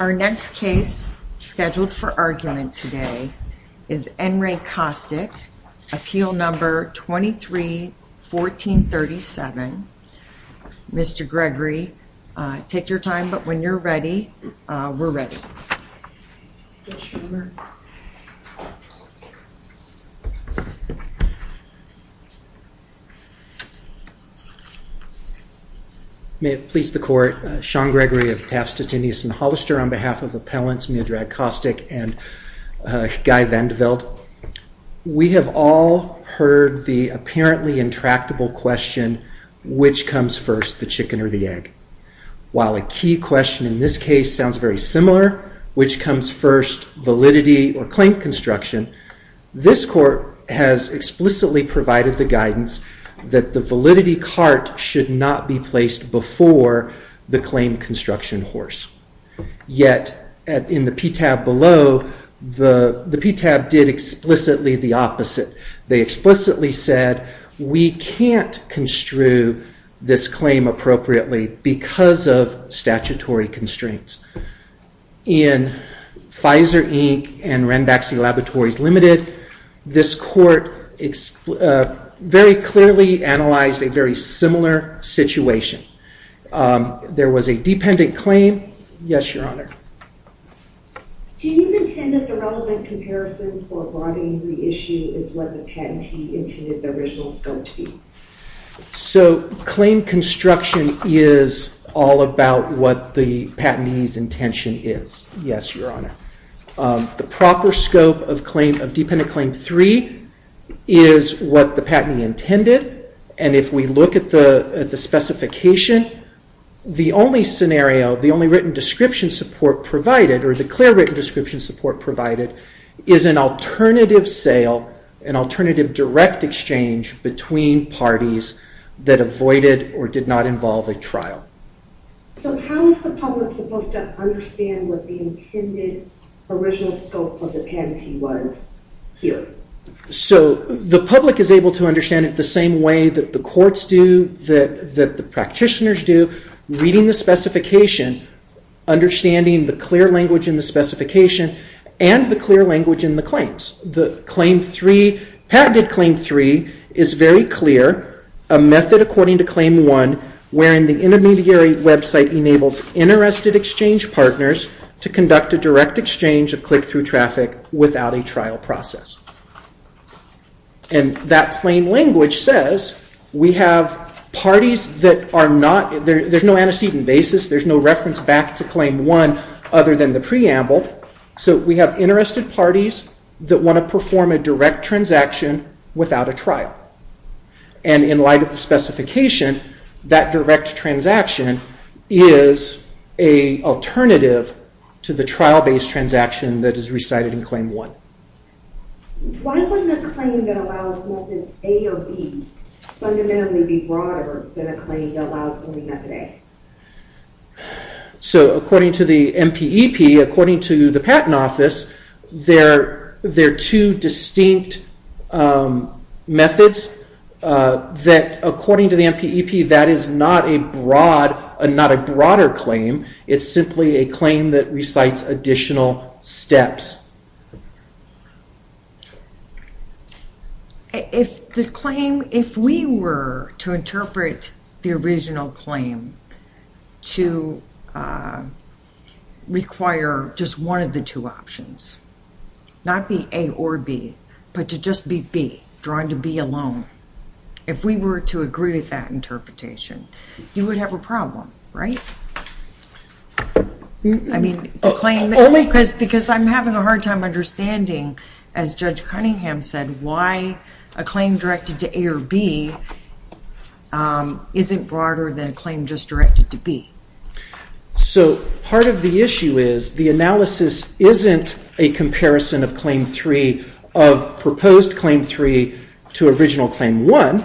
Our next case scheduled for argument today is N. Ray Kostic, appeal number 23-1437. Mr. Gregory, take your time, but when you're ready, we're ready. May it please the Court, Sean Gregory of Taft, Stettinius & Hollister on behalf of appellants Miodrag Kostic and Guy Vandeweld. We have all heard the apparently intractable question, which comes first, the chicken or the egg? While a key question in this case sounds very similar, which comes first, validity or claim construction, this Court has explicitly provided the guidance that the validity cart should not be placed before the claim construction horse. Yet, in the PTAB below, the PTAB did explicitly the opposite. They explicitly said, we can't construe this claim appropriately because of statutory constraints. In Pfizer, Inc. and Renbaxy Laboratories, Ltd., this Court very clearly analyzed a very similar situation. There was a dependent claim, yes, Your Honor. Do you intend that the relevant comparison for broadening the issue is what the patentee intended the original scope to be? Claim construction is all about what the patentee's intention is, yes, Your Honor. The proper scope of dependent claim 3 is what the patentee intended, and if we look at the specification, the only scenario, the only written description support provided, or the clear written description support provided, is an alternative sale, an alternative direct exchange between parties that avoided or did not involve a trial. So how is the public supposed to understand what the intended original scope of the patentee was here? So the public is able to understand it the same way that the courts do, that the practitioners do, reading the specification, understanding the clear language in the specification, and the clear language in the claims. The patented claim 3 is very clear, a method according to claim 1, wherein the intermediary website enables interested exchange partners to conduct a direct exchange of click-through traffic without a trial process. And that plain language says we have parties that are not, there's no antecedent basis, there's no reference back to claim 1 other than the preamble, so we have interested parties that want to perform a direct transaction without a trial. And in light of the specification, that direct transaction is an alternative to the trial-based transaction that is recited in claim 1. Why wouldn't a claim that allows methods A or B fundamentally be broader than a claim that allows only method A? So according to the MPEP, according to the Patent Office, there are two distinct methods that according to the MPEP, that is not a broader claim, it's simply a claim that recites additional steps. If the claim, if we were to interpret the original claim to require just one of the two options, not be A or B, but to just be B, drawing to B alone, if we were to agree with that interpretation, you would have a problem, right? I mean, the claim, because I'm having a hard time understanding, as Judge Cunningham said, why a claim directed to A or B isn't broader than a claim just directed to B. So part of the issue is, the analysis isn't a comparison of claim 3, of proposed claim 3 to original claim 1.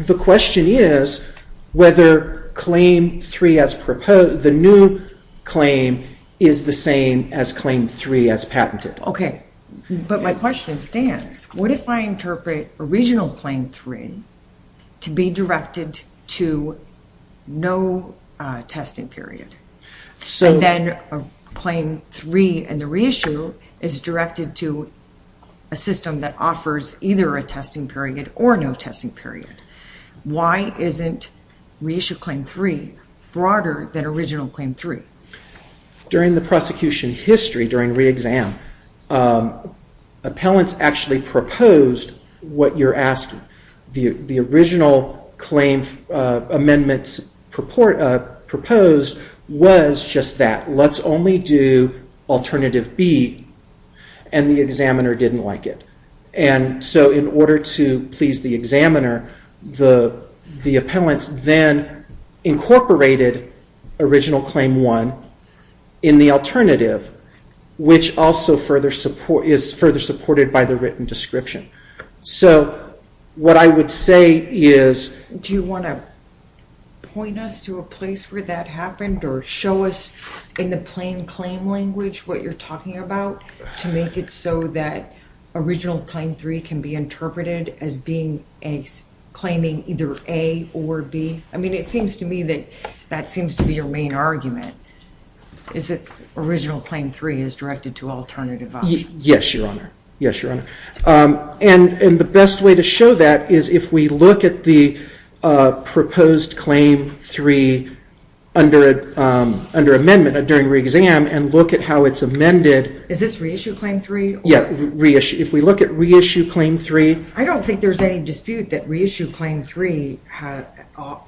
The question is whether claim 3 as proposed, the new claim, is the same as claim 3 as patented. Okay, but my question stands. What if I interpret original claim 3 to be directed to no testing period? So then claim 3 and the reissue is directed to a system that offers either a testing period or no testing period. Why isn't reissue claim 3 broader than original claim 3? During the prosecution history, during re-exam, appellants actually proposed what you're asking. The original claim amendments proposed was just that, let's only do alternative B, and the examiner didn't like it. And so in order to please the examiner, the appellants then incorporated original claim 1 in the alternative, which also is further supported by the written description. So what I would say is... Do you want to point us to a place where that happened or show us in the plain claim language what you're talking about to make it so that original claim 3 can be interpreted as being a claiming either A or B? I mean, it seems to me that that seems to be your main argument, is that original claim 3 is directed to alternative options. Yes, Your Honor, yes, Your Honor. And the best way to show that is if we look at the proposed claim 3 under amendment during re-exam and look at how it's amended... Is this re-issue claim 3? Yes, if we look at re-issue claim 3... I don't think there's any dispute that re-issue claim 3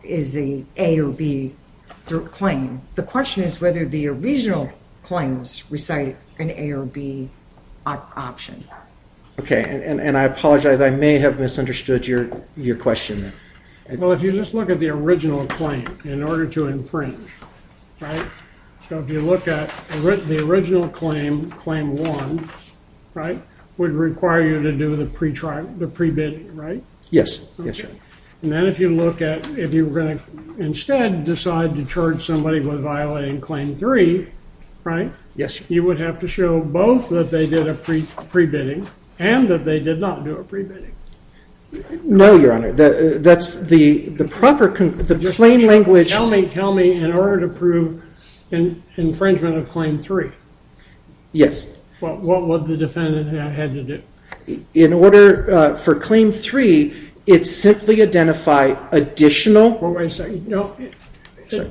is an A or B claim. The question is whether the original claims recite an A or B option. Okay, and I apologize, I may have misunderstood your question there. Well, if you just look at the original claim in order to infringe, right? So if you look at the original claim, claim 1, right, would require you to do the pre-bidding, right? Yes, yes, Your Honor. And then if you look at, if you were going to instead decide to charge somebody with violating claim 3, right? Yes, Your Honor. You would have to show both that they did a pre-bidding and that they did not do a pre-bidding. No, Your Honor, that's the proper, the plain language... Tell me, tell me, in order to prove infringement of claim 3. Yes. What would the defendant have had to do? In order for claim 3, it simply identified additional... Wait a second, no,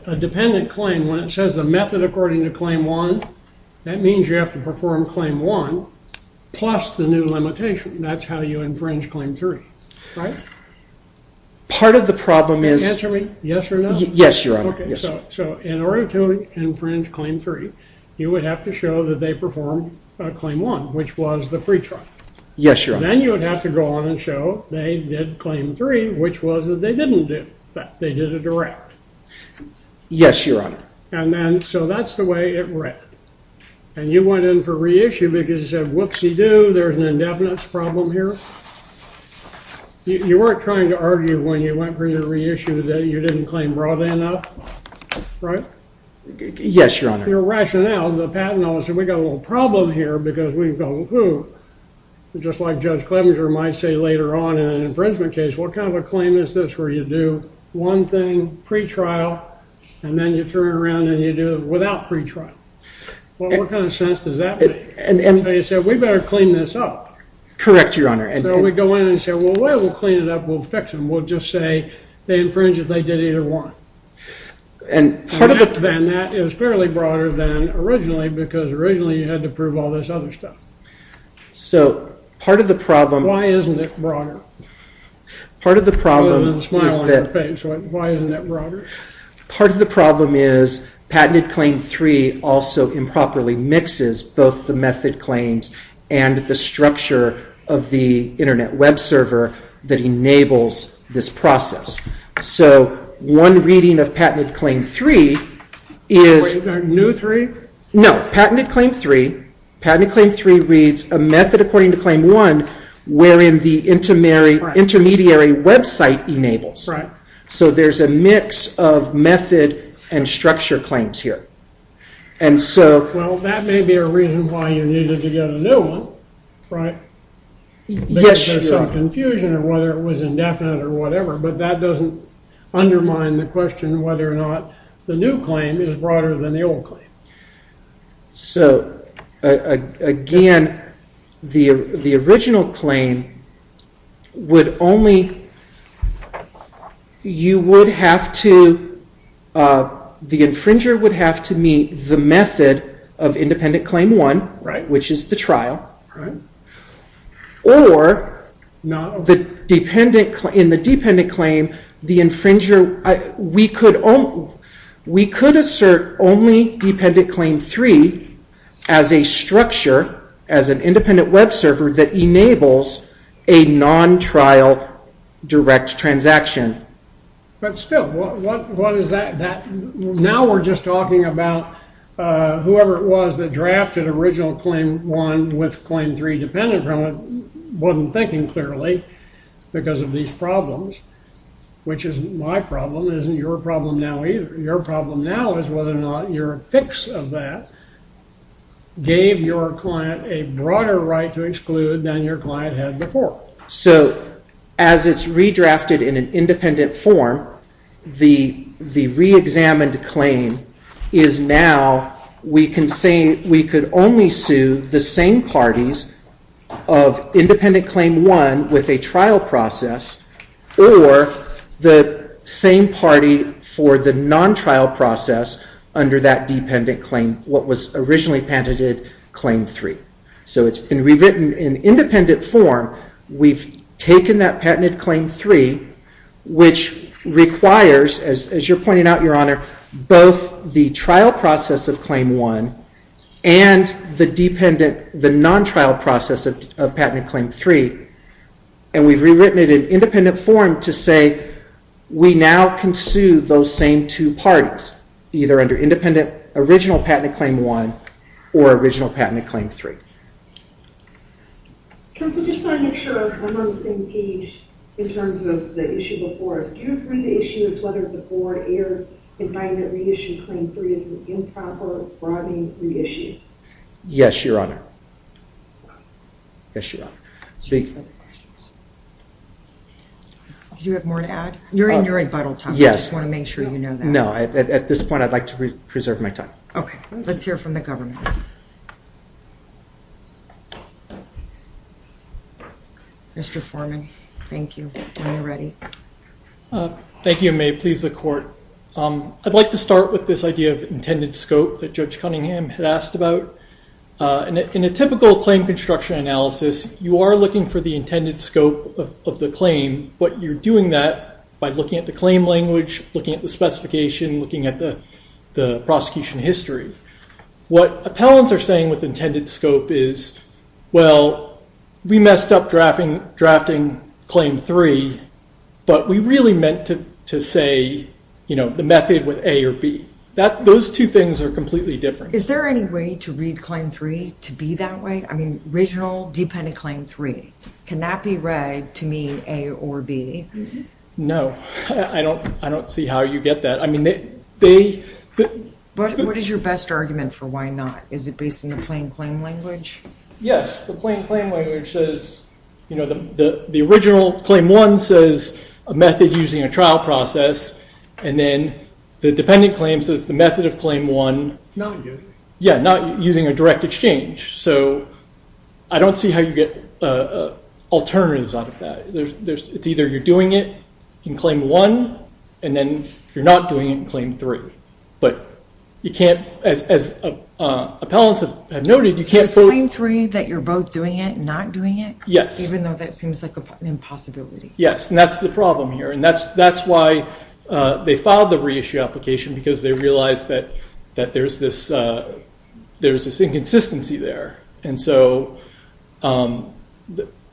a dependent claim, when it says the method according to claim 1, that means you have to perform claim 1 plus the new limitation. That's how you infringe claim 3, right? Part of the problem is... Answer me, yes or no? Yes, Your Honor. Okay, so in order to infringe claim 3, you would have to show that they performed claim 1, which was the pretrial. Yes, Your Honor. Then you would have to go on and show they did claim 3, which was that they didn't do, that they did a direct. Yes, Your Honor. And then, so that's the way it read. And you went in for reissue because you said, whoopsie-doo, there's an indefinite problem here. You weren't trying to argue when you went for your reissue that you didn't claim broadly enough, right? Yes, Your Honor. Your rationale, the patent officer, we got a little problem here because we've got a little clue. Just like Judge Clevenger might say later on in an infringement case, what kind of a claim is this where you do one thing pretrial and then you turn it around and you do it without pretrial? Well, what kind of sense does that make? And so you said, we better clean this up. Correct, Your Honor. So we go in and say, well, we'll clean it up, we'll fix them. We'll just say they infringed if they did either one. And part of the problem... And that is fairly broader than originally because originally you had to prove all this other stuff. So part of the problem... Why isn't it broader? Part of the problem is that... Why isn't that broader? Part of the problem is Patented Claim 3 also improperly mixes both the method claims and the structure of the Internet web server that enables this process. So one reading of Patented Claim 3 is... Wait, is that New 3? No, Patented Claim 3. Patented Claim 3 reads a method according to Claim 1 wherein the intermediary website enables. Right. So there's a mix of method and structure claims here. And so... Well, that may be a reason why you needed to get a new one, right? Yes, Your Honor. Because there's some confusion of whether it was indefinite or whatever, but that doesn't undermine the question whether or not the new claim is broader than the old claim. So, again, the original claim would only... You would have to... The infringer would have to meet the method of Independent Claim 1... Right. ...which is the trial. Right. Or in the Dependent Claim, the infringer... We could assert only Dependent Claim 3 as a structure, as an independent web server, that enables a non-trial direct transaction. But still, what is that? Now we're just talking about whoever it was that drafted Original Claim 1 with Claim 3 dependent from it wasn't thinking clearly because of these problems, which isn't my problem. It isn't your problem now either. Your problem now is whether or not your fix of that gave your client a broader right to exclude than your client had before. So, as it's redrafted in an independent form, the re-examined claim is now... We could only sue the same parties of Independent Claim 1 with a trial process or the same party for the non-trial process under that dependent claim, what was originally patented Claim 3. So it's been rewritten in independent form. We've taken that patented Claim 3, which requires, as you're pointing out, Your Honor, both the trial process of Claim 1 and the non-trial process of patented Claim 3, and we've rewritten it in independent form to say we now can sue those same two parties, either under Independent Original Patent Claim 1 or Original Patent Claim 3. Counsel, I just want to make sure I'm on the same page in terms of the issue before us. Do you agree the issue is whether the four-year indictment reissue Claim 3 is an improper, broadening reissue? Yes, Your Honor. Yes, Your Honor. Do you have more to add? You're in your rebuttal time. I just want to make sure you know that. No. At this point, I'd like to preserve my time. Okay. Let's hear from the government. Mr. Foreman, thank you. When you're ready. Thank you, and may it please the Court. I'd like to start with this idea of intended scope that Judge Cunningham had asked about. In a typical claim construction analysis, you are looking for the intended scope of the claim, but you're doing that by looking at the claim language, looking at the specification, looking at the prosecution history. What appellants are saying with intended scope is, well, we messed up drafting Claim 3, but we really meant to say the method with A or B. Those two things are completely different. Is there any way to read Claim 3 to be that way? I mean, original dependent Claim 3. Can that be read to mean A or B? No. I don't see how you get that. What is your best argument for why not? Is it based on the plain claim language? Yes. The plain claim language says the original Claim 1 says a method using a trial process, and then the dependent claim says the method of Claim 1. Not using. Using a direct exchange. So I don't see how you get alternatives out of that. It's either you're doing it in Claim 1, and then you're not doing it in Claim 3. But you can't, as appellants have noted, you can't both. So it's Claim 3 that you're both doing it and not doing it? Yes. Even though that seems like an impossibility. Yes, and that's the problem here. And that's why they filed the reissue application, because they realized that there's this inconsistency there. And so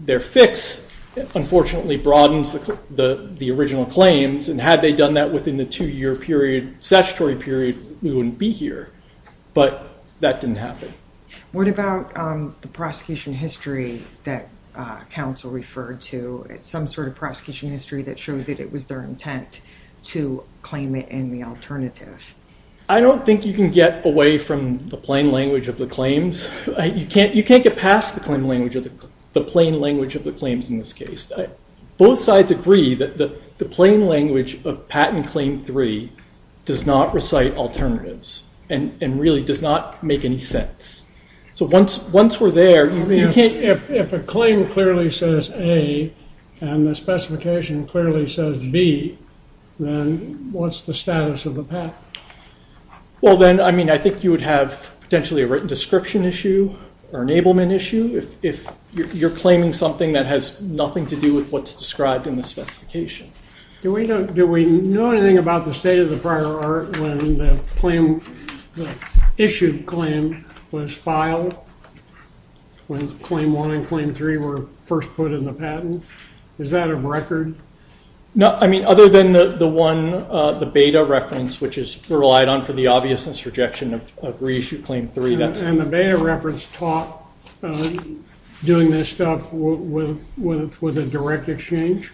their fix, unfortunately, broadens the original claims. And had they done that within the two-year period, statutory period, we wouldn't be here. But that didn't happen. What about the prosecution history that counsel referred to? Some sort of prosecution history that showed that it was their intent to claim it in the alternative. I don't think you can get away from the plain language of the claims. You can't get past the plain language of the claims in this case. Both sides agree that the plain language of Patent Claim 3 does not recite alternatives, and really does not make any sense. So once we're there, you can't... If a claim clearly says A, and the specification clearly says B, then what's the status of the patent? Well, then, I mean, I think you would have potentially a written description issue or an enablement issue if you're claiming something that has nothing to do with what's described in the specification. Do we know anything about the state of the prior art when the claim... the issued claim was filed when Claim 1 and Claim 3 were first put in the patent? Is that of record? No, I mean, other than the one, the beta reference, which is relied on for the obviousness rejection of Reissue Claim 3, that's... And the beta reference taught doing this stuff with a direct exchange?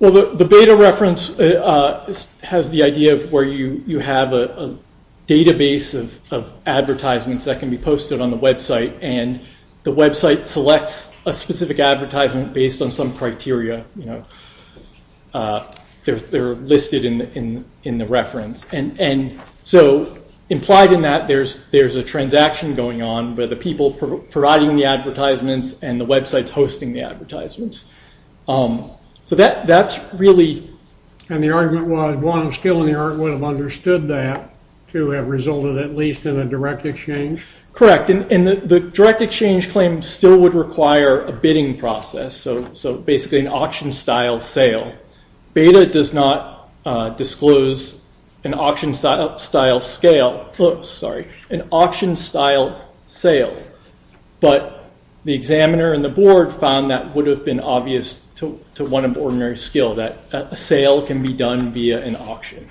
Well, the beta reference has the idea of where you have a database of advertisements that can be posted on the website, and the website selects a specific advertisement based on some criteria, you know. They're listed in the reference. And so implied in that, there's a transaction going on where the people providing the advertisements and the websites hosting the advertisements. So that's really... And the argument was one still in the art would have understood that to have resulted at least in a direct exchange? Correct. And the direct exchange claim still would require a bidding process, so basically an auction-style sale. Why? Beta does not disclose an auction-style sale, but the examiner and the board found that would have been obvious to one of ordinary skill, that a sale can be done via an auction.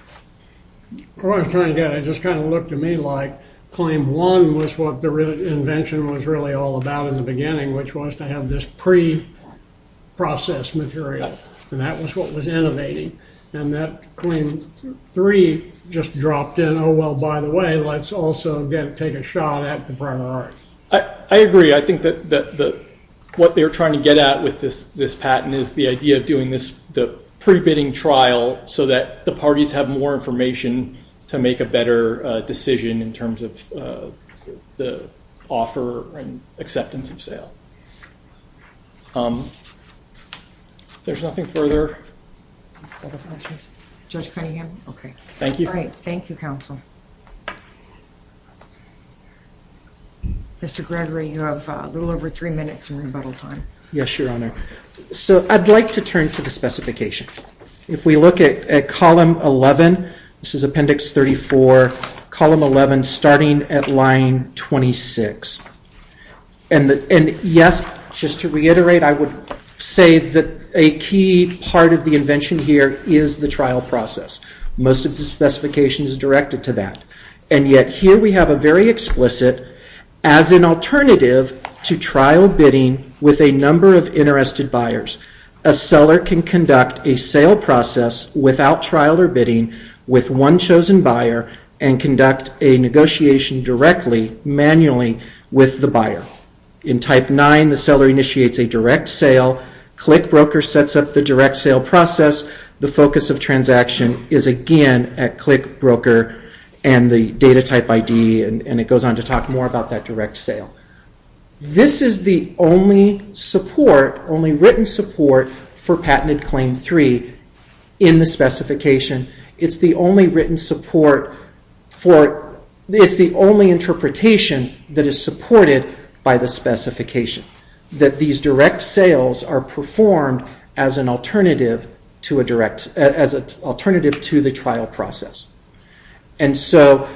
What I was trying to get at just kind of looked to me like Claim 1 was what the invention was really all about in the beginning, which was to have this pre-processed material. And that was what was innovating. And that Claim 3 just dropped in, oh, well, by the way, let's also take a shot at the primary. I agree. I think that what they were trying to get at with this patent is the idea of doing the pre-bidding trial so that the parties have more information to make a better decision in terms of the offer and acceptance of sale. There's nothing further? Judge Cunningham? Okay. Thank you. All right. Thank you, Counsel. Mr. Gregory, you have a little over three minutes in rebuttal time. Yes, Your Honor. So I'd like to turn to the specification. If we look at Column 11, this is Appendix 34, Column 11 starting at Line 26. And, yes, just to reiterate, I would say that a key part of the invention here is the trial process. Most of the specification is directed to that. And yet here we have a very explicit, as an alternative to trial bidding with a number of interested buyers, a seller can conduct a sale process without trial or bidding with one chosen buyer and conduct a negotiation directly, manually, with the buyer. In Type 9, the seller initiates a direct sale. ClickBroker sets up the direct sale process. The focus of transaction is, again, at ClickBroker and the data type ID, and it goes on to talk more about that direct sale. This is the only support, only written support, for Patented Claim 3 in the specification. It's the only written support for, it's the only interpretation that is supported by the specification, that these direct sales are performed as an alternative to a direct, as an alternative to the trial process. And so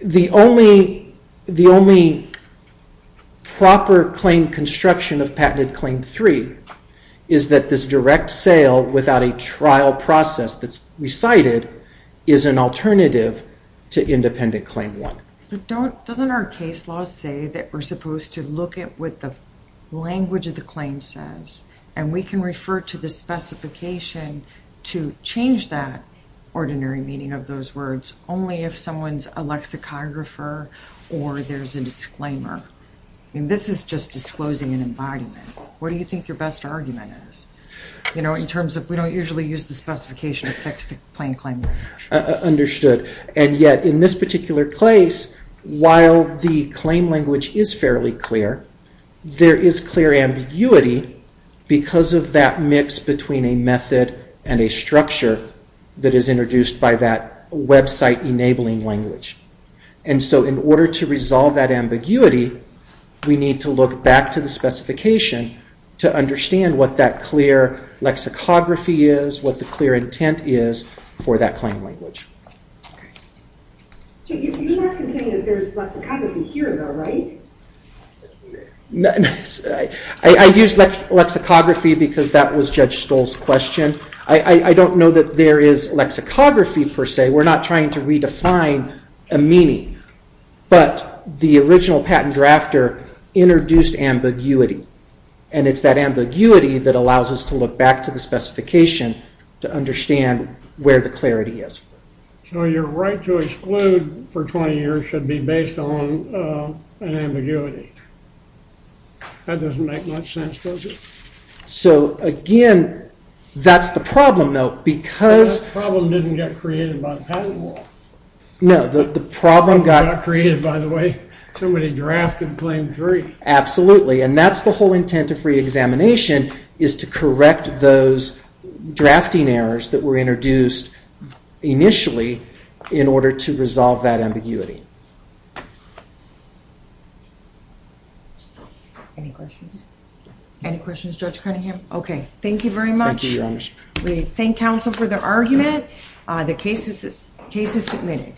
the only proper claim construction of Patented Claim 3 is that this direct sale without a trial process that's recited is an alternative to Independent Claim 1. But doesn't our case law say that we're supposed to look at what the language of the claim says, and we can refer to the specification to change that ordinary meaning of those words only if someone's a lexicographer or there's a disclaimer. I mean, this is just disclosing an embodiment. What do you think your best argument is? You know, in terms of we don't usually use the specification to fix the plain claim language. Understood. And yet in this particular case, while the claim language is fairly clear, there is clear ambiguity because of that mix between a method and a structure that is introduced by that website-enabling language. And so in order to resolve that ambiguity, we need to look back to the specification to understand what that clear lexicography is, what the clear intent is for that claim language. You're not saying that there's lexicography here, though, right? I use lexicography because that was Judge Stoll's question. I don't know that there is lexicography, per se. We're not trying to redefine a meaning. But the original patent drafter introduced ambiguity, and it's that ambiguity that allows us to look back to the specification to understand where the clarity is. So your right to exclude for 20 years should be based on an ambiguity. That doesn't make much sense, does it? So, again, that's the problem, though, because... That problem didn't get created by the patent law. No, the problem got... It was not created, by the way. Somebody drafted Claim 3. Absolutely, and that's the whole intent of free examination is to correct those drafting errors that were introduced initially in order to resolve that ambiguity. Any questions? Any questions, Judge Cunningham? Okay, thank you very much. Thank you, Your Honor. We thank counsel for their argument. The case is submitted.